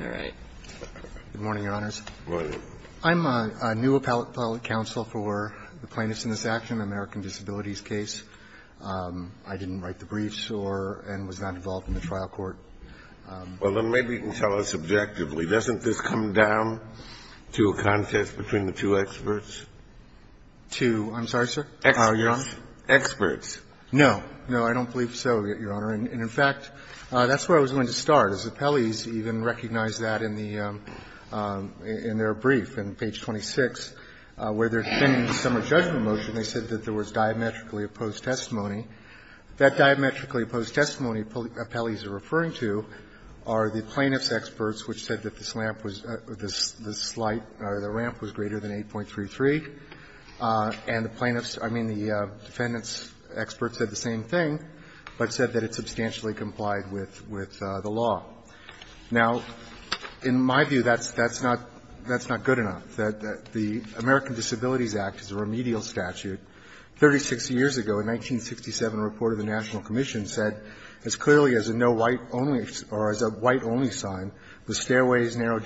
All right. Good morning, Your Honors. Good morning. I'm a new appellate counsel for the plaintiffs in this action, American Disabilities case. I didn't write the briefs and was not involved in the trial court. Well, then maybe you can tell us subjectively, doesn't this come down to a contest between the two experts? Two, I'm sorry, sir? Experts. Experts. No. No, I don't believe so, Your Honor. And in fact, that's where I was going to start. As appellees even recognize that in the – in their brief, in page 26, where they're defending the summer judgment motion, they said that there was diametrically opposed testimony. That diametrically opposed testimony appellees are referring to are the plaintiff's experts, which said that this ramp was greater than 8.33. And the plaintiff's – I mean, the defendant's experts said the same thing, but said that it substantially complied with the law. Now, in my view, that's not – that's not good enough, that the American Disabilities Act is a remedial statute. Thirty-six years ago, in 1967, a report of the National Commission said, as clearly as a no white only – or as a white only sign, the stairways, narrow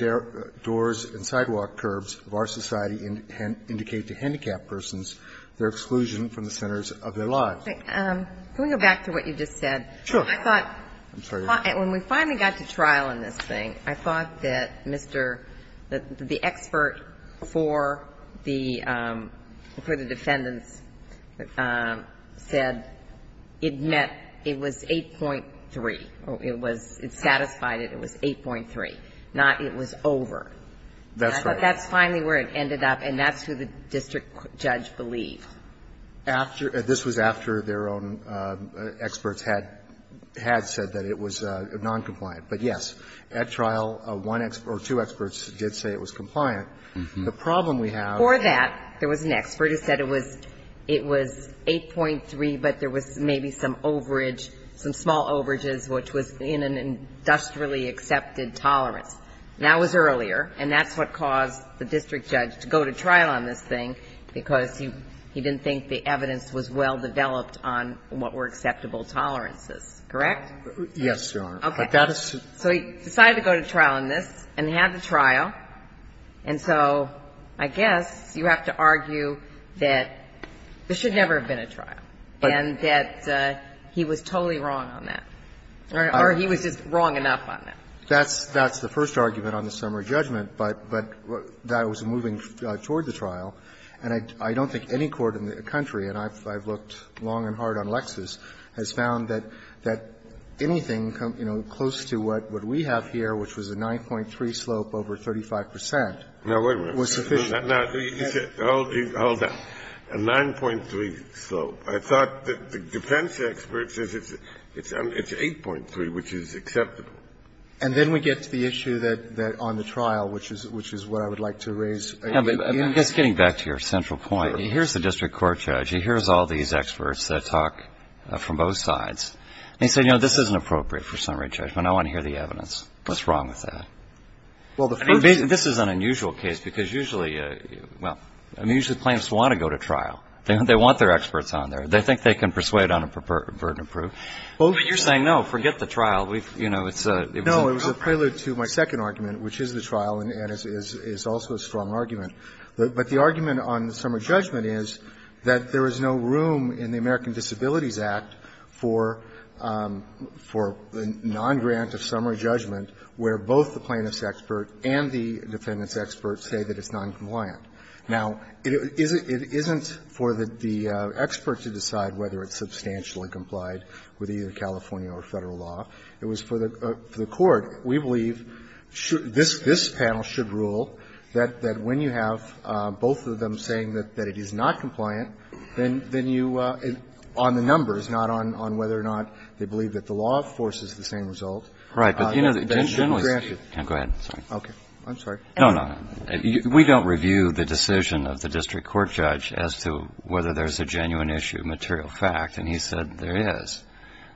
doors and sidewalk curbs of our society indicate to handicapped persons their exclusion from the centers of their lives. Can we go back to what you just said? Sure. I thought – when we finally got to trial in this thing, I thought that Mr. – that the expert for the – for the defendants said it met – it was 8.3, or it was – it satisfied it, it was 8.3, not it was over. That's right. But that's finally where it ended up, and that's who the district judge believed. After – this was after their own experts had – had said that it was noncompliant. But, yes, at trial, one expert – or two experts did say it was compliant. The problem we have – For that, there was an expert who said it was – it was 8.3, but there was maybe some overage, some small overages, which was in an industrially accepted tolerance. That was earlier, and that's what caused the district judge to go to trial on this thing, because he didn't think the evidence was well-developed on what were acceptable tolerances, correct? Yes, Your Honor. Okay. But that is to – So he decided to go to trial on this, and he had the trial, and so I guess you have to argue that this should never have been a trial, and that he was totally wrong on that, or he was just wrong enough on that. That's – that's the first argument on the summary judgment, but that was moving toward the trial, and I don't think any court in the country, and I've looked long and hard on Lexis, has found that anything, you know, close to what we have here, which was a 9.3 slope over 35 percent, was sufficient. Now, wait a minute. Now, you said – hold that. A 9.3 slope. I thought the defense expert says it's 8.3, which is acceptable. And then we get to the issue that on the trial, which is what I would like to raise I guess getting back to your central point, here's the district court judge. He hears all these experts that talk from both sides, and he said, you know, this isn't appropriate for summary judgment. I want to hear the evidence. What's wrong with that? Well, the first – I mean, this is an unusual case, because usually – well, I mean, usually plaintiffs want to go to trial. They want their experts on there. They think they can persuade on a burden of proof. But you're saying, no, forget the trial. We've – you know, it's a – No, it was a prelude to my second argument, which is the trial, and it's also a strong argument. But the argument on the summary judgment is that there is no room in the American Disabilities Act for non-grant of summary judgment where both the plaintiff's expert and the defendant's expert say that it's noncompliant. Now, it isn't for the expert to decide whether it's substantial and complied with either California or Federal law. It was for the court. So we believe this panel should rule that when you have both of them saying that it is not compliant, then you – on the numbers, not on whether or not they believe that the law enforces the same result. Right. But, you know, generally – Go ahead. Sorry. Okay. I'm sorry. No, no. We don't review the decision of the district court judge as to whether there's a genuine issue of material fact. And he said there is.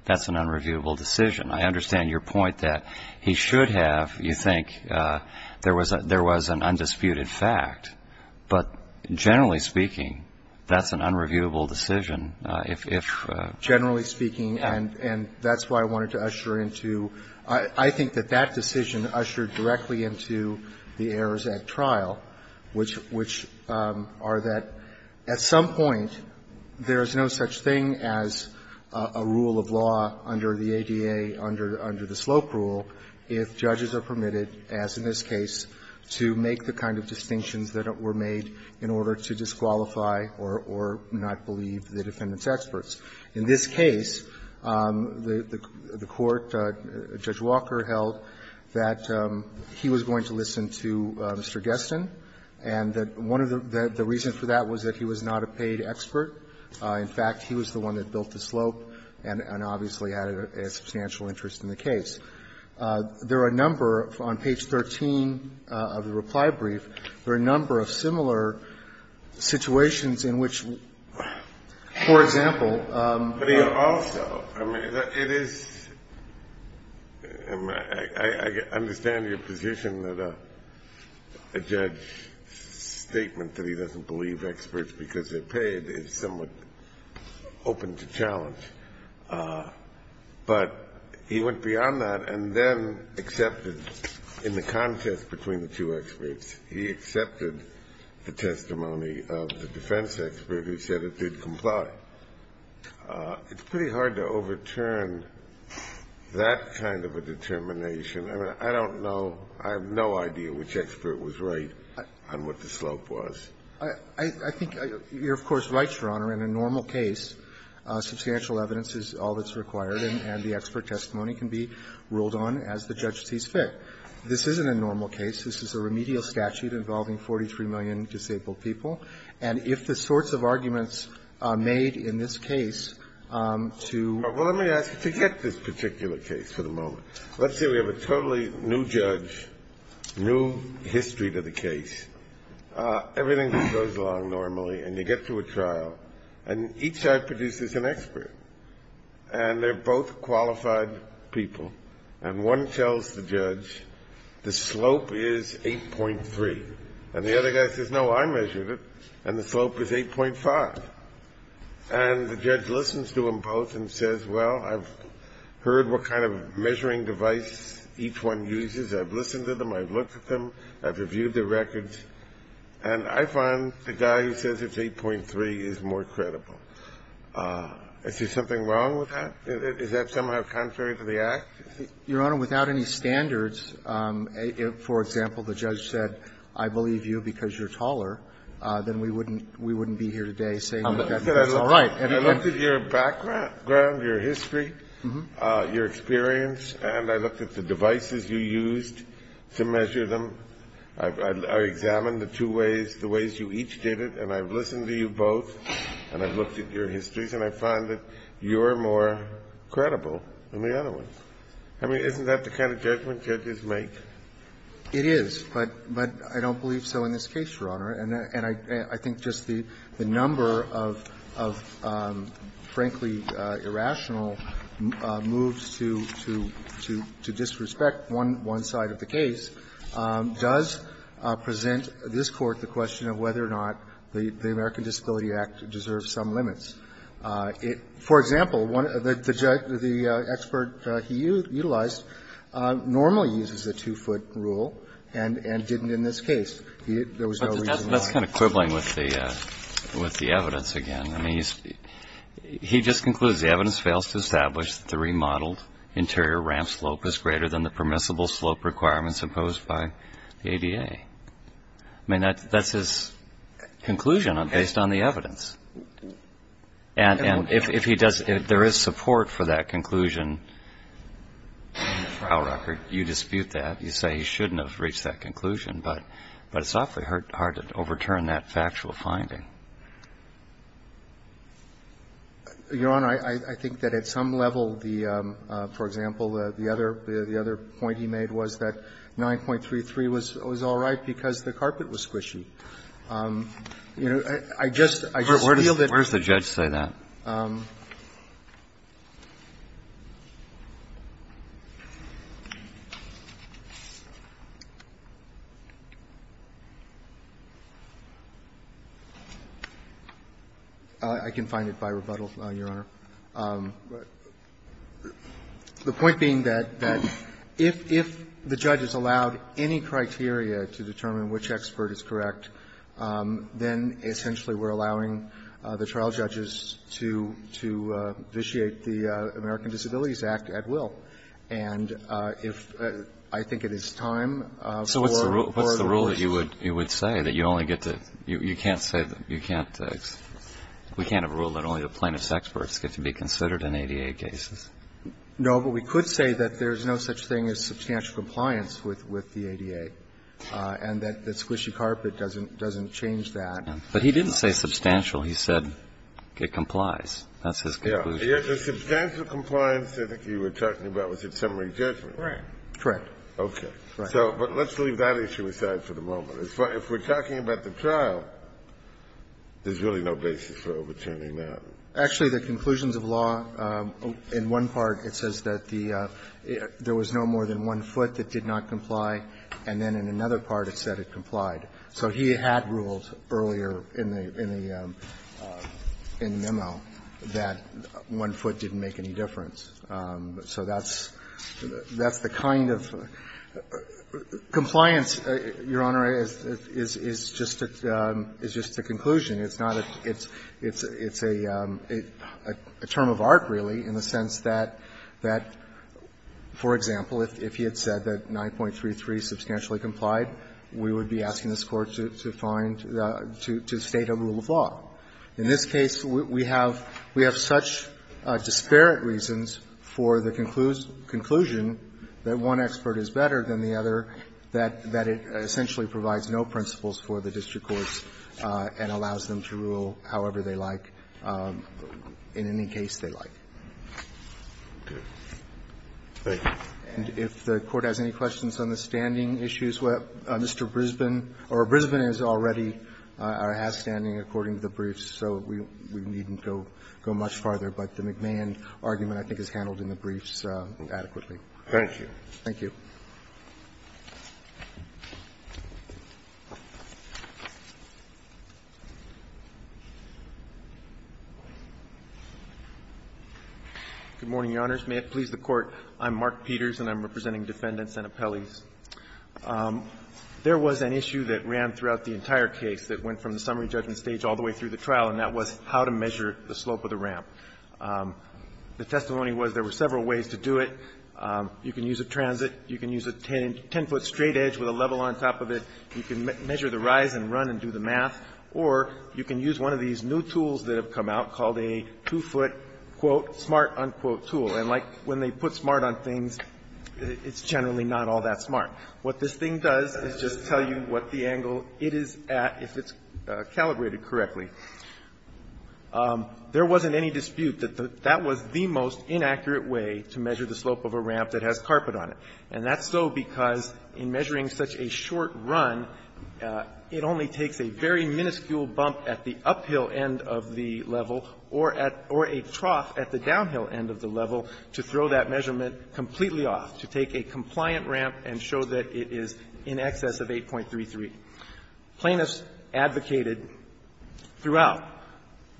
That's an unreviewable decision. I understand your point that he should have. You think there was an undisputed fact. But generally speaking, that's an unreviewable decision if – Generally speaking, and that's why I wanted to usher into – I think that that decision ushered directly into the Errors Act trial, which are that at some point, there is no such thing as a rule of law under the ADA, under the Slope Rule, if judges are permitted, as in this case, to make the kind of distinctions that were made in order to disqualify or not believe the defendant's experts. In this case, the court, Judge Walker held that he was going to listen to Mr. Guestin, and that one of the reasons for that was that he was not a paid expert. In fact, he was the one that built the slope and obviously had a substantial interest in the case. There are a number of – on page 13 of the reply brief, there are a number of similar situations in which, for example – But he also – I mean, it is – I understand your position that a judge should make a statement that he doesn't believe experts because they're paid is somewhat open to challenge. But he went beyond that and then accepted – in the contest between the two experts, he accepted the testimony of the defense expert who said it did comply. It's pretty hard to overturn that kind of a determination. I don't know – I have no idea which expert was right. On what the slope was. I think you're, of course, right, Your Honor. In a normal case, substantial evidence is all that's required, and the expert testimony can be ruled on as the judge sees fit. This isn't a normal case. This is a remedial statute involving 43 million disabled people. And if the sorts of arguments made in this case to – Well, let me ask you to get this particular case for the moment. Let's say we have a totally new judge, new history to the case. Everything goes along normally, and you get to a trial. And each side produces an expert. And they're both qualified people. And one tells the judge, the slope is 8.3. And the other guy says, no, I measured it, and the slope is 8.5. And the judge listens to them both and says, well, I've heard what kind of measuring device each one uses. I've listened to them. I've looked at them. I've reviewed their records. And I find the guy who says it's 8.3 is more credible. Is there something wrong with that? Is that somehow contrary to the Act? Your Honor, without any standards, for example, the judge said, I believe you because you're taller, then we wouldn't be here today saying that. I looked at your background, your history, your experience, and I looked at the devices you used to measure them. I examined the two ways, the ways you each did it. And I've listened to you both. And I've looked at your histories. And I find that you're more credible than the other one. I mean, isn't that the kind of judgment judges make? It is. But I don't believe so in this case, Your Honor. And I think just the number of, frankly, irrational moves to disrespect one side of the case does present this Court the question of whether or not the American Disability Act deserves some limits. For example, the expert he utilized normally uses a two-foot rule and didn't in this case. There was no reason why. But that's kind of quibbling with the evidence again. I mean, he just concludes the evidence fails to establish that the remodeled interior ramp slope is greater than the permissible slope requirements imposed by the ADA. I mean, that's his conclusion based on the evidence. And if he does, if there is support for that conclusion in the trial record, you dispute that. You say he shouldn't have reached that conclusion. But it's awfully hard to overturn that factual finding. Your Honor, I think that at some level the, for example, the other point he made was that 9.33 was all right because the carpet was squishy. You know, I just feel that. Where does the judge say that? I can find it by rebuttal, Your Honor. The point being that if the judge has allowed any criteria to determine which expert is correct, then essentially we're allowing the trial judges to vitiate the American Disabilities Act at will. And if, I think it is time for. So what's the rule that you would say that you only get to, you can't say, we can't have a rule that only the plaintiff's experts get to be considered in ADA cases? No. But we could say that there's no such thing as substantial compliance with the ADA and that the squishy carpet doesn't change that. But he didn't say substantial. He said it complies. That's his conclusion. Yes. The substantial compliance I think you were talking about was at summary judgment. Right. Correct. Okay. Right. So but let's leave that issue aside for the moment. If we're talking about the trial, there's really no basis for overturning that. Actually, the conclusions of law, in one part it says that the, there was no more than one foot that did not comply, and then in another part it said it complied. So he had ruled earlier in the memo that one foot didn't make any difference. So that's the kind of compliance, Your Honor, is just a conclusion. It's a term of art, really, in the sense that, for example, if he had said that 9.33 substantially complied, we would be asking this Court to find, to state a rule of law. In this case, we have such disparate reasons for the conclusion that one expert is better than the other that it essentially provides no principles for the district courts and allows them to rule however they like, in any case they like. Okay. Thank you. And if the Court has any questions on the standing issues, Mr. Brisbane, or Brisbane has already, or has standing according to the briefs, so we needn't go much farther. But the McMahon argument I think is handled in the briefs adequately. Thank you. Thank you. Good morning, Your Honors. May it please the Court. I'm Mark Peters, and I'm representing defendants and appellees. There was an issue that ran throughout the entire case that went from the summary judgment stage all the way through the trial, and that was how to measure the slope of the ramp. The testimony was there were several ways to do it. You can use a transit. You can use a ten-foot straightedge with a level on top of it. You can measure the rise and run and do the math. Or you can use one of these new tools that have come out called a two-foot, quote, smart, unquote tool. And like when they put smart on things, it's generally not all that smart. What this thing does is just tell you what the angle it is at, if it's calibrated correctly. There wasn't any dispute that that was the most inaccurate way to measure the slope of a ramp that has carpet on it. And that's so because in measuring such a short run, it only takes a very minuscule bump at the uphill end of the level or a trough at the downhill end of the level to throw that measurement completely off, to take a compliant ramp and show that it is in excess of 8.33. Plaintiffs advocated throughout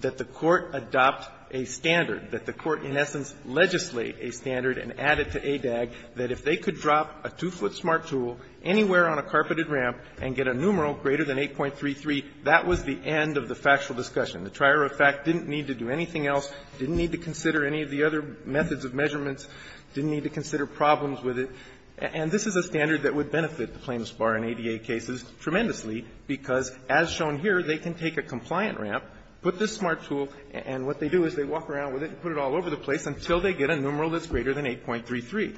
that the Court adopt a standard, that the Court in essence legislate a standard and add it to ADAG, that if they could drop a two-foot smart tool anywhere on a carpeted ramp and get a numeral greater than 8.33, that was the end of the factual discussion. The trier of fact didn't need to do anything else, didn't need to consider any of the other methods of measurements, didn't need to consider problems with it. And this is a standard that would benefit the plaintiffs bar in ADA cases tremendously because, as shown here, they can take a compliant ramp, put this smart tool, and what they do is they walk around with it and put it all over the place until they get a numeral that's greater than 8.33.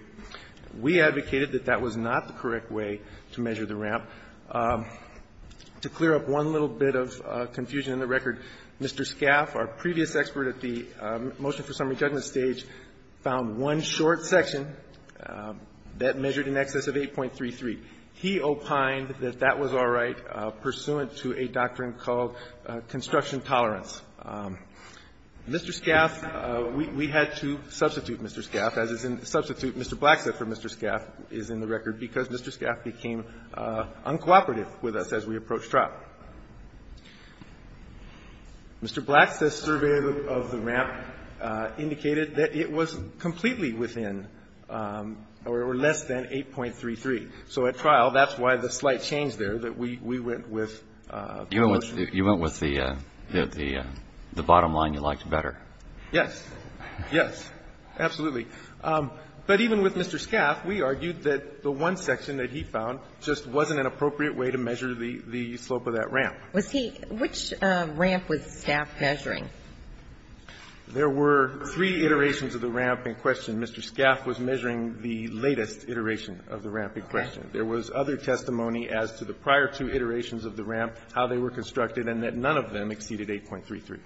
We advocated that that was not the correct way to measure the ramp. To clear up one little bit of confusion in the record, Mr. Scaff, our previous expert at the motion for summary judgment stage, found one short section that measured in excess of 8.33. He opined that that was all right pursuant to a doctrine called construction tolerance. Mr. Scaff, we had to substitute Mr. Scaff, as is in the substitute, Mr. Blackstaff for Mr. Scaff is in the record because Mr. Scaff became uncooperative with us as we approached trial. Mr. Blackstaff's survey of the ramp indicated that it was completely within or less than 8.33. So at trial, that's why the slight change there that we went with the motion. You went with the bottom line you liked better. Yes. Yes. Absolutely. But even with Mr. Scaff, we argued that the one section that he found just wasn't an appropriate way to measure the slope of that ramp. Which ramp was Scaff measuring? There were three iterations of the ramp in question. Mr. Scaff was measuring the latest iteration of the ramp in question. There was other testimony as to the prior two iterations of the ramp, how they were constructed, and that none of them exceeded 8.33.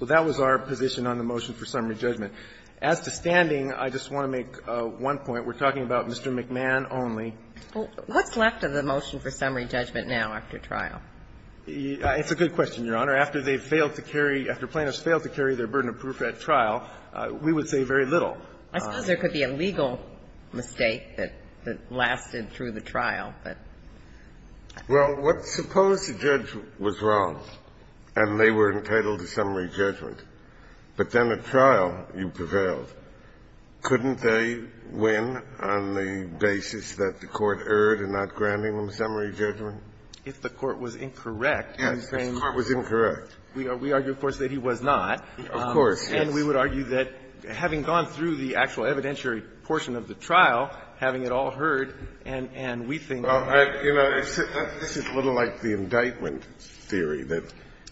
So that was our position on the motion for summary judgment. As to standing, I just want to make one point. We're talking about Mr. McMahon only. Well, what's left of the motion for summary judgment now after trial? It's a good question, Your Honor. After they failed to carry, after plaintiffs failed to carry their burden of proof at trial, we would say very little. I suppose there could be a legal mistake that lasted through the trial, but. Well, suppose the judge was wrong and they were entitled to summary judgment, but then at trial you prevailed. Couldn't they win on the basis that the court erred in not granting them summary judgment? If the court was incorrect, you're saying. Yes, if the court was incorrect. We argue, of course, that he was not. Of course. And we would argue that having gone through the actual evidentiary portion of the trial, having it all heard, and we think. This is a little like the indictment theory, that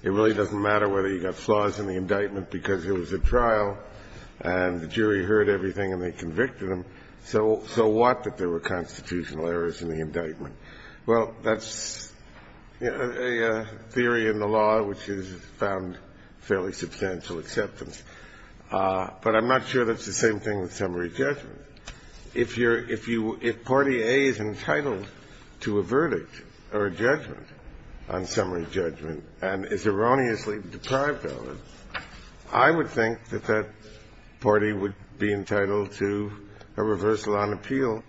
it really doesn't matter whether you got flaws in the indictment because it was at trial and the jury heard everything and they convicted them. So what, that there were constitutional errors in the indictment? Well, that's a theory in the law which has found fairly substantial acceptance, but I'm not sure that's the same thing with summary judgment. If you're, if you, if party A is entitled to a verdict or a judgment on summary judgment and is erroneously deprived of it, I would think that that party would be entitled to a reversal on appeal,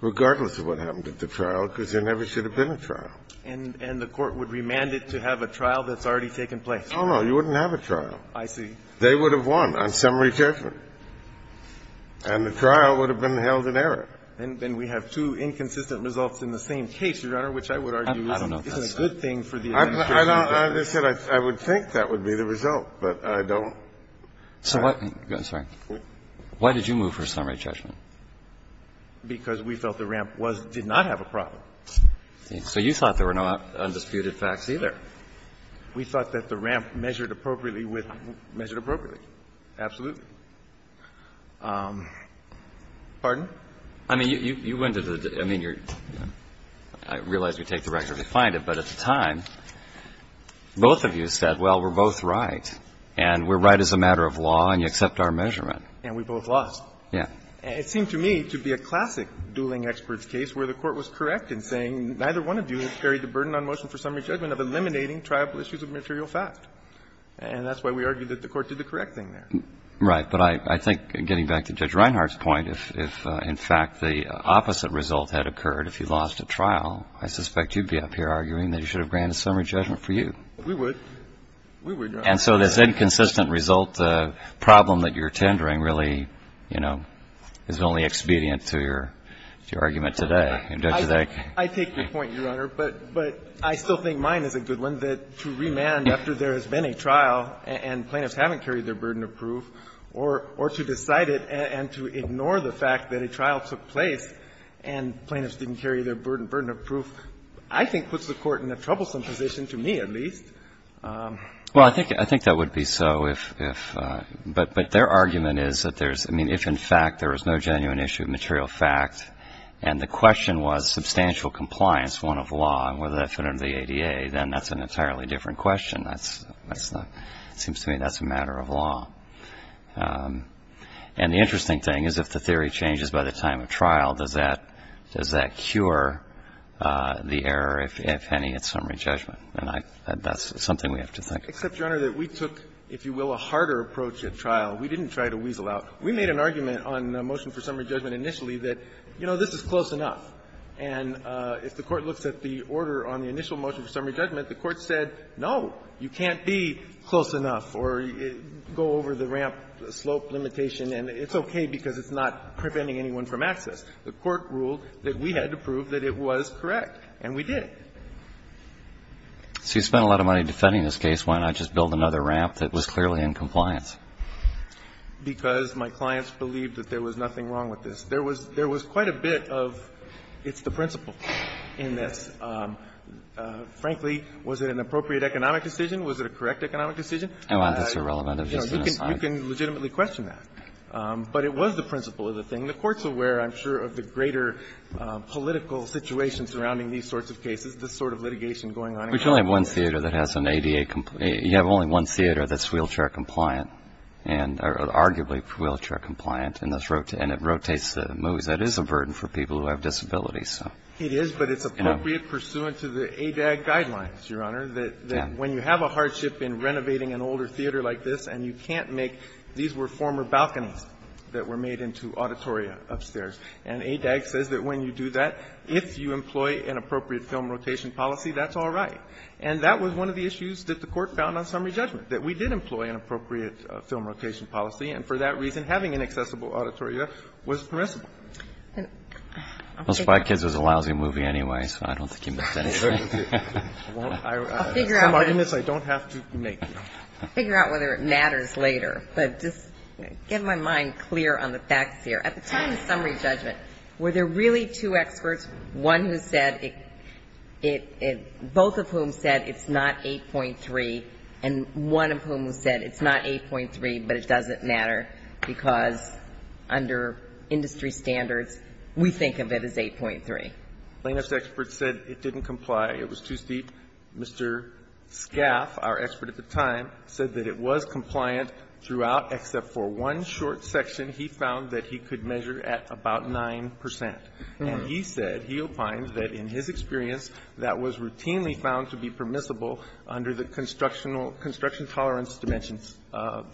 regardless of what happened at the trial, because there never should have been a trial. And the court would remand it to have a trial that's already taken place? Oh, no. You wouldn't have a trial. I see. They would have won on summary judgment. And the trial would have been held in error. And we have two inconsistent results in the same case, Your Honor, which I would argue isn't a good thing for the administration. I don't, I said I would think that would be the result, but I don't. So what, I'm sorry. Why did you move for summary judgment? Because we felt the ramp was, did not have a problem. So you thought there were no undisputed facts either? We thought that the ramp measured appropriately with, measured appropriately. Absolutely. Pardon? I mean, you went to the, I mean, you're, I realize you take the record to find it, but at the time, both of you said, well, we're both right, and we're right as a matter of law, and you accept our measurement. And we both lost. Yeah. And it seemed to me to be a classic dueling experts case where the Court was correct in saying neither one of you has carried the burden on motion for summary judgment of eliminating triable issues of material fact. And that's why we argued that the Court did the correct thing there. Right. But I think, getting back to Judge Reinhart's point, if, in fact, the opposite result had occurred, if you lost a trial, I suspect you'd be up here arguing that he should have granted summary judgment for you. We would. We would, Your Honor. And so this inconsistent result problem that you're tendering really, you know, is only expedient to your argument today. I take your point, Your Honor. But I still think mine is a good one, that to remand after there has been a trial and plaintiffs haven't carried their burden of proof, or to decide it and to ignore the fact that a trial took place and plaintiffs didn't carry their burden of proof, I think puts the Court in a troublesome position, to me at least. Well, I think that would be so, but their argument is that there's, I mean, if, in fact, there was no genuine issue of material fact and the question was substantial compliance, one of law, and whether that fit under the ADA, then that's an entirely different question. It seems to me that's a matter of law. And the interesting thing is if the theory changes by the time of trial, does that cure the error, if any, at summary judgment? And that's something we have to think. Except, Your Honor, that we took, if you will, a harder approach at trial. We didn't try to weasel out. We made an argument on the motion for summary judgment initially that, you know, this is close enough. And if the Court looks at the order on the initial motion for summary judgment, the Court said, no, you can't be close enough or go over the ramp slope limitation, and it's okay because it's not preventing anyone from access. The Court ruled that we had to prove that it was correct, and we did. So you spent a lot of money defending this case. Why not just build another ramp that was clearly in compliance? Because my clients believed that there was nothing wrong with this. There was quite a bit of it's the principle in this. Frankly, was it an appropriate economic decision? Was it a correct economic decision? That's irrelevant. You can legitimately question that. But it was the principle of the thing. The Court's aware, I'm sure, of the greater political situation surrounding these sorts of cases, this sort of litigation going on. But you only have one theater that has an ADA compliant. You have only one theater that's wheelchair compliant and arguably wheelchair compliant, and it rotates the movies. That is a burden for people who have disabilities. It is, but it's appropriate pursuant to the ADAG guidelines, Your Honor, that when you have a hardship in renovating an older theater like this and you can't make these were former balconies that were made into auditoria upstairs. And ADAG says that when you do that, if you employ an appropriate film rotation policy, that's all right. And that was one of the issues that the Court found on summary judgment, that we did employ an appropriate film rotation policy. And for that reason, having an accessible auditoria was permissible. Well, Spy Kids was a lousy movie anyway, so I don't think he missed anything. I'll figure out whether it matters later. But just get my mind clear on the facts here. At the time of summary judgment, were there really two experts, one who said it both of whom said it's not 8.3 and one of whom said it's not 8.3, but it doesn't matter because under industry standards, we think of it as 8.3? Plano's expert said it didn't comply. It was too steep. Mr. Scaff, our expert at the time, said that it was compliant throughout, except for one short section he found that he could measure at about 9 percent. And he said, he opined, that in his experience, that was routinely found to be permissible under the construction tolerance dimensions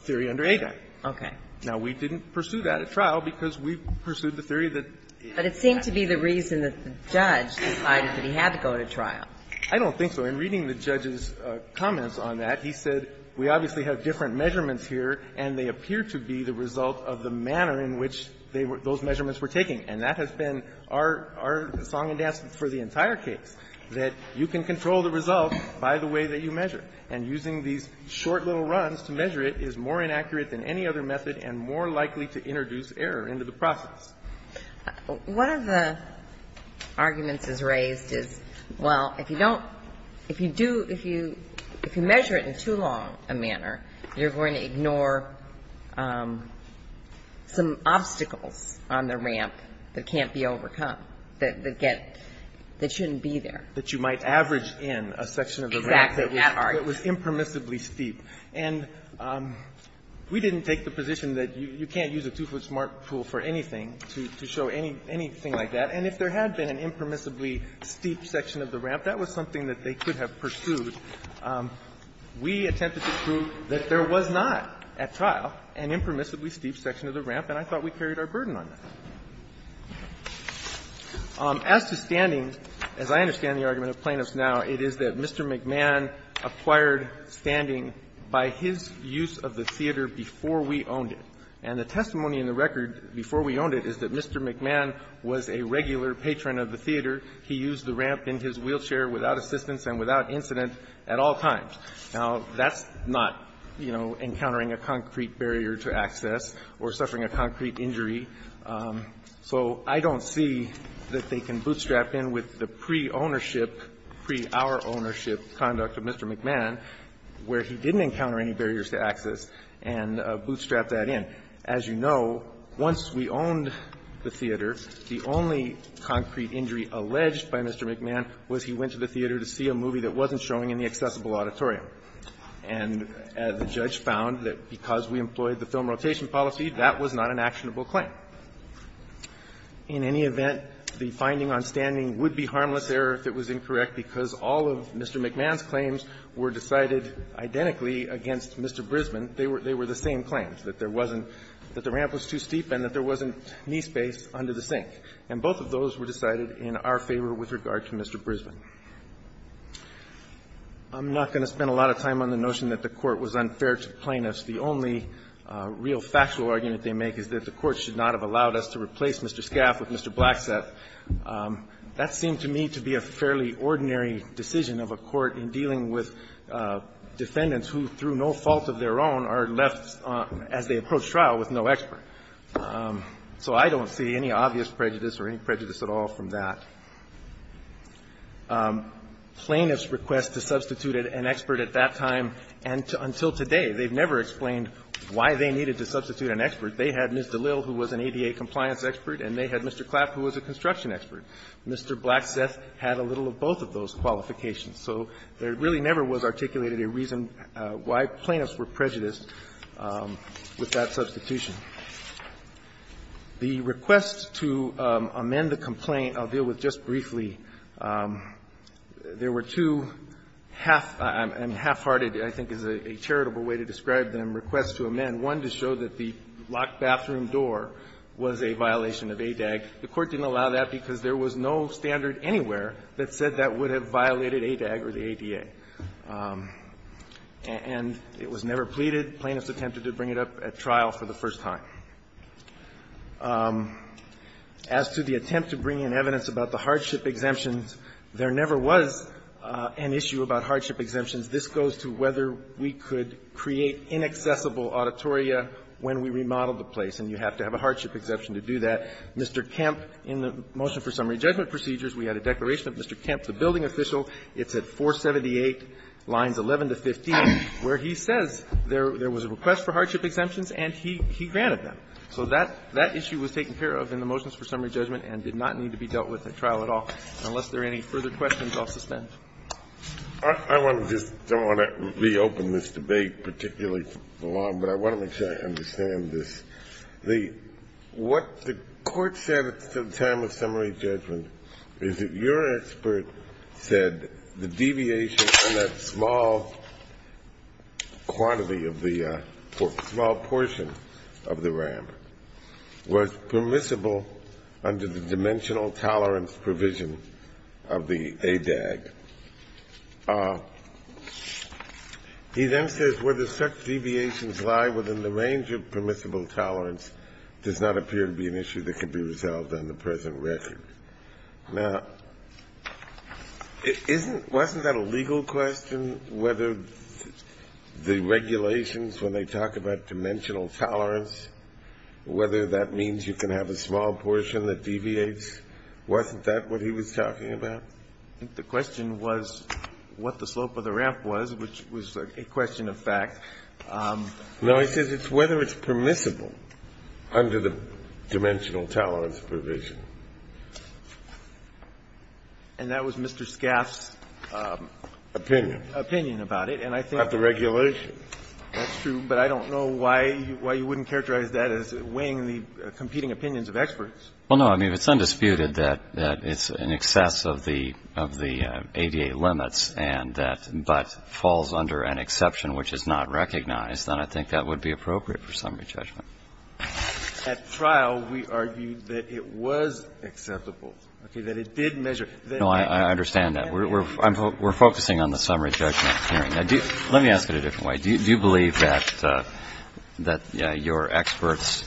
theory under ADAG. Okay. Now, we didn't pursue that at trial because we pursued the theory that it was not. But it seemed to be the reason that the judge decided that he had to go to trial. I don't think so. In reading the judge's comments on that, he said we obviously have different measurements here, and they appear to be the result of the manner in which those measurements were taken. And that has been our song and dance for the entire case, that you can control the result by the way that you measure. And using these short little runs to measure it is more inaccurate than any other method and more likely to introduce error into the process. One of the arguments that's raised is, well, if you don't, if you do, if you measure it in too long a manner, you're going to ignore some obstacles on the ramp that can't be overcome, that get, that shouldn't be there. That you might average in a section of the ramp that was impermissibly steep. And we didn't take the position that you can't use a two-foot smart pool for anything to show anything like that. And if there had been an impermissibly steep section of the ramp, that was something that they could have pursued, we attempted to prove that there was not at trial an impermissibly steep section of the ramp, and I thought we carried our burden on that. As to standing, as I understand the argument of plaintiffs now, it is that Mr. McMahon acquired standing by his use of the theater before we owned it. And the testimony in the record before we owned it is that Mr. McMahon was a regular patron of the theater. He used the ramp in his wheelchair without assistance and without incident at all times. Now, that's not, you know, encountering a concrete barrier to access or suffering a concrete injury. So I don't see that they can bootstrap in with the pre-ownership, pre-our-ownership conduct of Mr. McMahon, where he didn't encounter any barriers to access, and bootstrap that in. As you know, once we owned the theater, the only concrete injury alleged by Mr. McMahon was he went to the theater to see a movie that wasn't showing in the accessible auditorium. And the judge found that because we employed the film rotation policy, that was not an actionable claim. In any event, the finding on standing would be harmless error if it was incorrect, because all of Mr. McMahon's claims were decided identically against Mr. Brisbane. They were the same claims, that there wasn't – that the ramp was too steep and that there wasn't knee space under the sink. And both of those were decided in our favor with regard to Mr. Brisbane. I'm not going to spend a lot of time on the notion that the Court was unfair to plaintiffs. The only real factual argument they make is that the Court should not have allowed us to replace Mr. Scaff with Mr. Blacksett. That seemed to me to be a fairly ordinary decision of a court in dealing with defendants who, through no fault of their own, are left, as they approach trial, with no expert. So I don't see any obvious prejudice or any prejudice at all from that. Plaintiffs' request to substitute an expert at that time and until today, they've never explained why they needed to substitute an expert. They had Ms. DeLille, who was an ADA compliance expert, and they had Mr. Clapp, who was a construction expert. Mr. Blacksett had a little of both of those qualifications. So there really never was articulated a reason why plaintiffs were prejudiced with that substitution. The request to amend the complaint I'll deal with just briefly. There were two half-hearted, I think is a charitable way to describe them, requests to amend, one to show that the locked bathroom door was a violation of ADAG. The Court didn't allow that because there was no standard anywhere that said that that would have violated ADAG or the ADA. And it was never pleaded. Plaintiffs attempted to bring it up at trial for the first time. As to the attempt to bring in evidence about the hardship exemptions, there never was an issue about hardship exemptions. This goes to whether we could create inaccessible auditoria when we remodeled the place, and you have to have a hardship exemption to do that. Mr. Kemp, in the motion for summary judgment procedures, we had a declaration of Mr. Kemp, the building official. It's at 478 lines 11 to 15, where he says there was a request for hardship exemptions and he granted them. So that issue was taken care of in the motions for summary judgment and did not need to be dealt with at trial at all. Unless there are any further questions, I'll suspend. Kennedy. I want to just go on and reopen this debate, particularly for Long, but I want to make sure I understand this. The what the court said at the time of summary judgment is that your expert said the deviation in that small quantity of the small portion of the ramp was permissible under the dimensional tolerance provision of the ADAG. He then says, were there such deviations lie within the range of permissible dimension of tolerance does not appear to be an issue that could be resolved on the present record. Now, isn't, wasn't that a legal question? Whether the regulations, when they talk about dimensional tolerance, whether that means you can have a small portion that deviates? Wasn't that what he was talking about? The question was what the slope of the ramp was, which was a question of fact. Now, he says it's whether it's permissible under the dimensional tolerance provision. And that was Mr. Scaff's opinion about it, and I think About the regulations. That's true, but I don't know why you wouldn't characterize that as weighing the competing opinions of experts. Well, no, I mean, it's undisputed that it's in excess of the ADA limits and that, but falls under an exception, which is not recognized, then I think that would be appropriate for summary judgment. At trial, we argued that it was acceptable, okay, that it did measure. No, I understand that. We're focusing on the summary judgment hearing. Let me ask it a different way. Do you believe that your expert's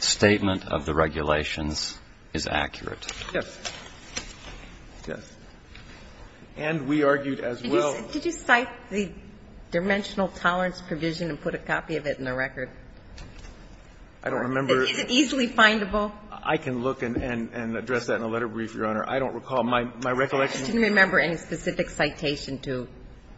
statement of the regulations is accurate? Yes. Yes. And we argued as well. Did you cite the dimensional tolerance provision and put a copy of it in the record? I don't remember. Is it easily findable? I can look and address that in a letter brief, Your Honor. I don't recall. My recollection is that I don't recall any specific citation to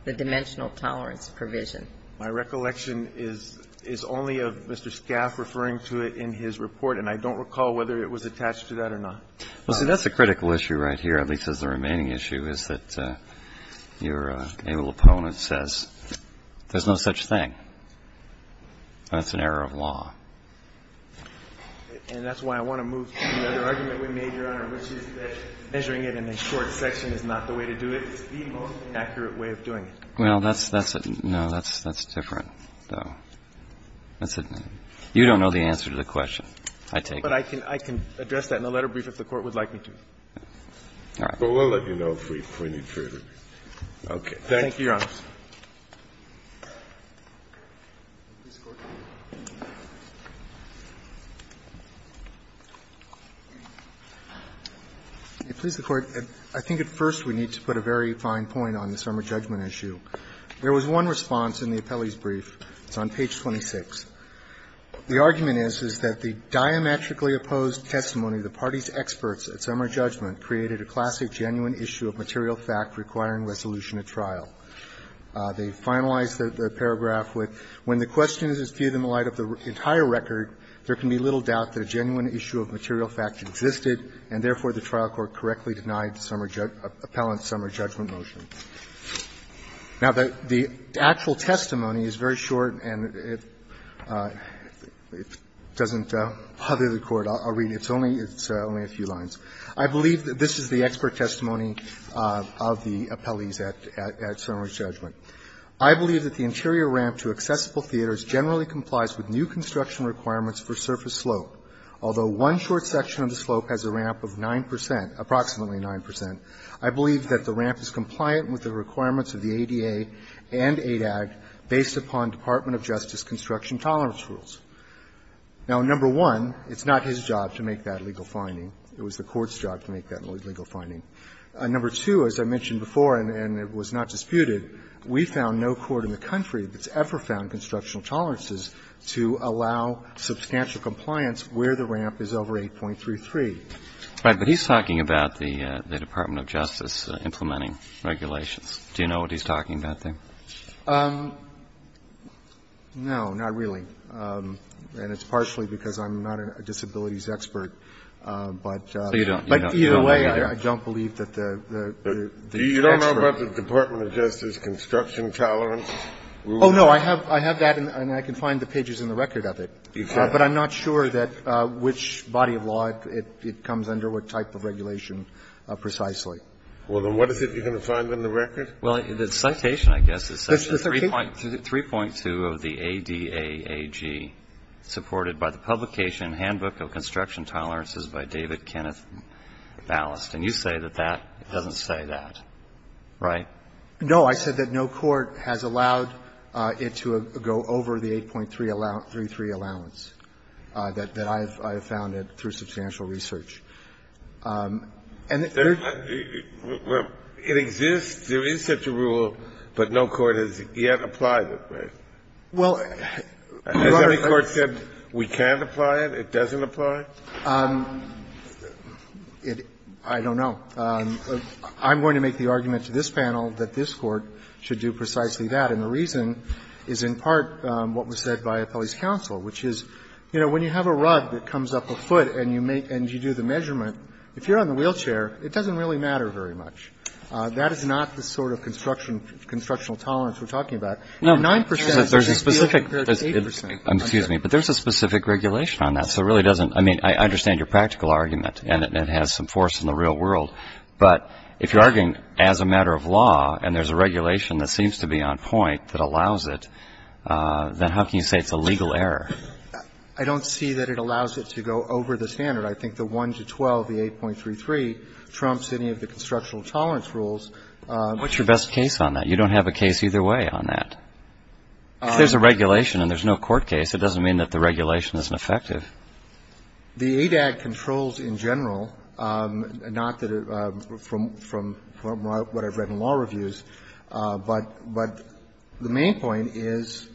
the dimensional tolerance provision. My recollection is only of Mr. Scaff referring to it in his report, and I don't recall whether it was attached to that or not. Well, see, that's a critical issue right here, at least as the remaining issue, is that your able opponent says there's no such thing. That's an error of law. And that's why I want to move to the other argument we made, Your Honor, which is that measuring it in a short section is not the way to do it. It's the most accurate way of doing it. Well, that's a different, though. You don't know the answer to the question, I take it. But I can address that in a letter brief if the Court would like me to. But we'll let you know if we need further. Thank you, Your Honor. Please, the Court. I think at first we need to put a very fine point on the summer judgment issue. There was one response in the appellee's brief. It's on page 26. The argument is, is that the diametrically opposed testimony of the party's experts at summer judgment created a classic genuine issue of material fact requiring resolution at trial. They finalized the paragraph with, When the question is viewed in light of the entire record, there can be little doubt that a genuine issue of material fact existed, and therefore, the trial court correctly denied appellant's summer judgment motion. Now, the actual testimony is very short and it doesn't bother the Court. I'll read it. It's only a few lines. I believe that this is the expert testimony of the appellees at summer judgment. I believe that the interior ramp to accessible theaters generally complies with new construction requirements for surface slope, although one short section of the slope has a ramp of 9 percent, approximately 9 percent. I believe that the ramp is compliant with the requirements of the ADA and ADAG based upon Department of Justice construction tolerance rules. Now, number one, it's not his job to make that legal finding. It was the Court's job to make that legal finding. Number two, as I mentioned before and it was not disputed, we found no court in the country that's ever found construction tolerances to allow substantial compliance where the ramp is over 8.33. Right. But he's talking about the Department of Justice implementing regulations. Do you know what he's talking about there? No, not really. And it's partially because I'm not a disabilities expert, but either way, I don't believe that the expert. You don't know about the Department of Justice construction tolerance rules? Oh, no. I have that and I can find the pages in the record of it. You can. I'm not sure that which body of law it comes under, what type of regulation precisely. Well, then what is it you're going to find in the record? Well, the citation, I guess, it says 3.2 of the ADAAG supported by the publication Handbook of Construction Tolerances by David Kenneth Ballast. And you say that that doesn't say that, right? No, I said that no court has allowed it to go over the 8.33 allowance. That I have found it through substantial research. And there's not the rule. It exists. There is such a rule, but no court has yet applied it, right? Well, Your Honor, let's see. Has any court said we can't apply it, it doesn't apply? I don't know. I'm going to make the argument to this panel that this Court should do precisely that. And the reason is in part what was said by Appellee's counsel, which is, you know, when you have a rug that comes up a foot and you make and you do the measurement, if you're on the wheelchair, it doesn't really matter very much. That is not the sort of construction, constructional tolerance we're talking about. And 9 percent is a field compared to 8 percent. But there's a specific regulation on that. So it really doesn't – I mean, I understand your practical argument, and it has some force in the real world. But if you're arguing as a matter of law and there's a regulation that seems to be on point that allows it, then how can you say it's a legal error? I don't see that it allows it to go over the standard. I think the 1 to 12, the 8.33, trumps any of the constructional tolerance rules. What's your best case on that? You don't have a case either way on that. If there's a regulation and there's no court case, it doesn't mean that the regulation isn't effective. The ADAG controls in general, not that it – from what I've read in law reviews, but the main point is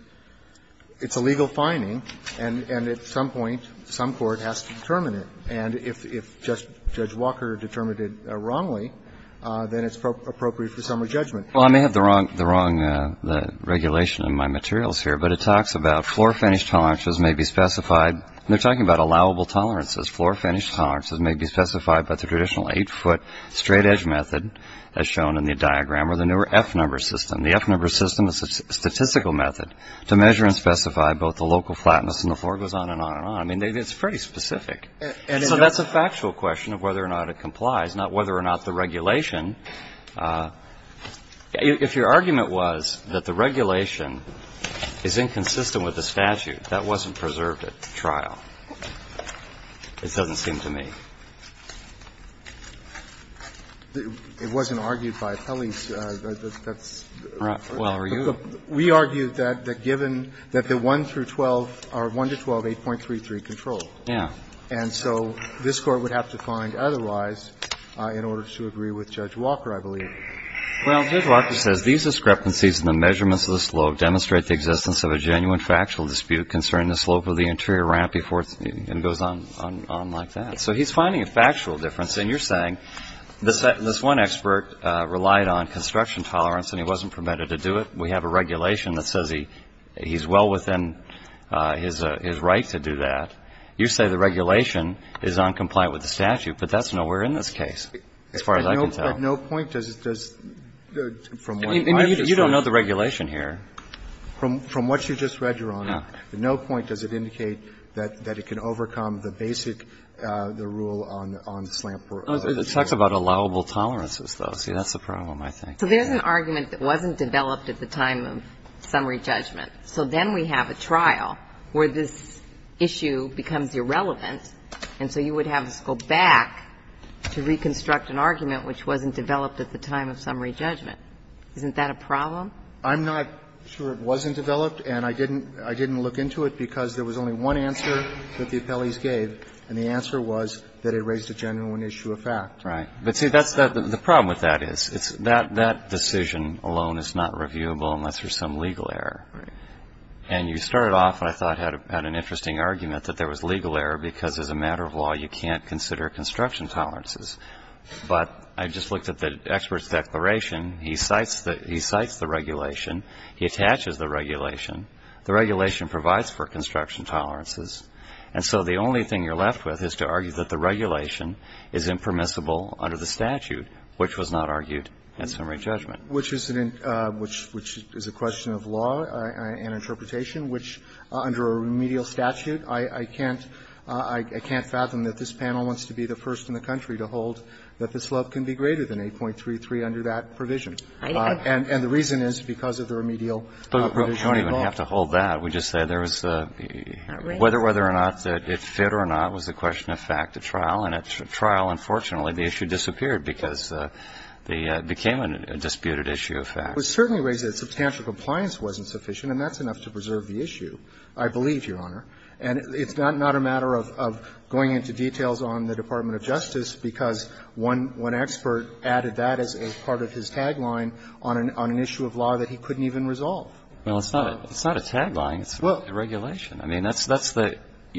it's a legal finding, and at some point, some court has to determine it. And if Judge Walker determined it wrongly, then it's appropriate for summary judgment. Well, I may have the wrong regulation in my materials here, but it talks about floor finish tolerances may be specified – they're talking about allowable tolerances. Floor finish tolerances may be specified by the traditional 8-foot straight edge method as shown in the diagram or the newer F-number system. The F-number system is a statistical method to measure and specify both the local flatness and the floor goes on and on and on. I mean, it's pretty specific. So that's a factual question of whether or not it complies, not whether or not the regulation – if your argument was that the regulation is inconsistent with the statute, that wasn't preserved at the trial, it doesn't seem to me. It wasn't argued by the appellees. That's the problem. We argued that given that the 1 through 12, or 1 to 12, 8.33 control. Yeah. And so this Court would have to find otherwise in order to agree with Judge Walker, I believe. Well, Judge Walker says these discrepancies in the measurements of the slope demonstrate the existence of a genuine factual dispute concerning the slope of the interior ramp before it goes on like that. So he's finding a factual difference. And you're saying this one expert relied on construction tolerance and he wasn't permitted to do it. We have a regulation that says he's well within his right to do that. You say the regulation is noncompliant with the statute, but that's nowhere in this case, as far as I can tell. But no point does it – from what I understand – You don't know the regulation here. From what you just read, Your Honor, no point does it indicate that it can overcome the basic – the rule on the slant. It talks about allowable tolerances, though. See, that's the problem, I think. So there's an argument that wasn't developed at the time of summary judgment. So then we have a trial where this issue becomes irrelevant, and so you would have us go back to reconstruct an argument which wasn't developed at the time of summary judgment. Isn't that a problem? I'm not sure it wasn't developed, and I didn't look into it because there was only one answer that the appellees gave, and the answer was that it raised a genuine issue of fact. Right. But, see, that's – the problem with that is, it's – that decision alone is not reviewable unless there's some legal error. And you started off, I thought, at an interesting argument that there was legal error because as a matter of law, you can't consider construction tolerances. But I just looked at the expert's declaration. He cites the – he cites the regulation. He attaches the regulation. The regulation provides for construction tolerances. And so the only thing you're left with is to argue that the regulation is impermissible under the statute, which was not argued at summary judgment. Which is an – which is a question of law and interpretation, which under a remedial statute, I can't – I can't fathom that this panel wants to be the first in the country to hold that this law can be greater than 8.33 under that provision. And the reason is because of the remedial provision. But you don't even have to hold that. We just said there was a – whether or not it fit or not was a question of fact at trial. And at trial, unfortunately, the issue disappeared because it became a disputed issue of fact. It was certainly raised that substantial compliance wasn't sufficient, and that's enough to preserve the issue, I believe, Your Honor. And it's not a matter of going into details on the Department of Justice because one expert added that as a part of his tagline on an issue of law that he couldn't even resolve. Well, it's not a – it's not a tagline. It's a regulation. I mean, that's the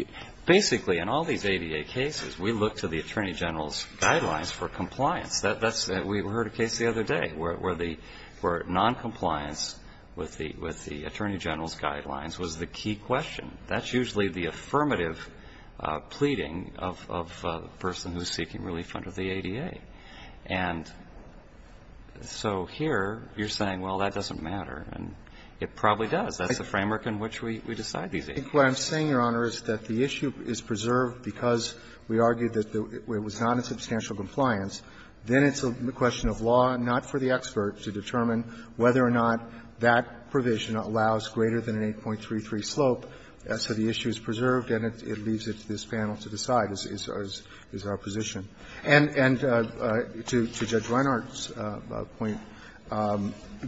– basically, in all these ADA cases, we look to the Attorney General's guidelines for compliance. That's – we heard a case the other day where the – where noncompliance with the Attorney General's guidelines was the key question. That's usually the affirmative pleading of the person who's seeking relief under the ADA. And so here, you're saying, well, that doesn't matter. And it probably does. That's the framework in which we decide these ADAs. I think what I'm saying, Your Honor, is that the issue is preserved because we argued that it was not a substantial compliance. Then it's a question of law, not for the expert, to determine whether or not that provision allows greater than an 8.33 slope. So the issue is preserved, and it leaves it to this panel to decide, is our position. And to Judge Reinhart's point,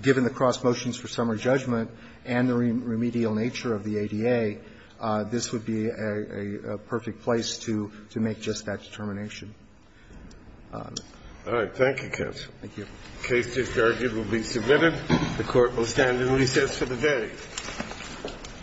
given the cross motions for summary judgment and the remedial nature of the ADA, this would be a perfect place to make just that determination. All right. Thank you, counsel. Thank you. The case is argued and will be submitted. The Court will stand in recess for the day.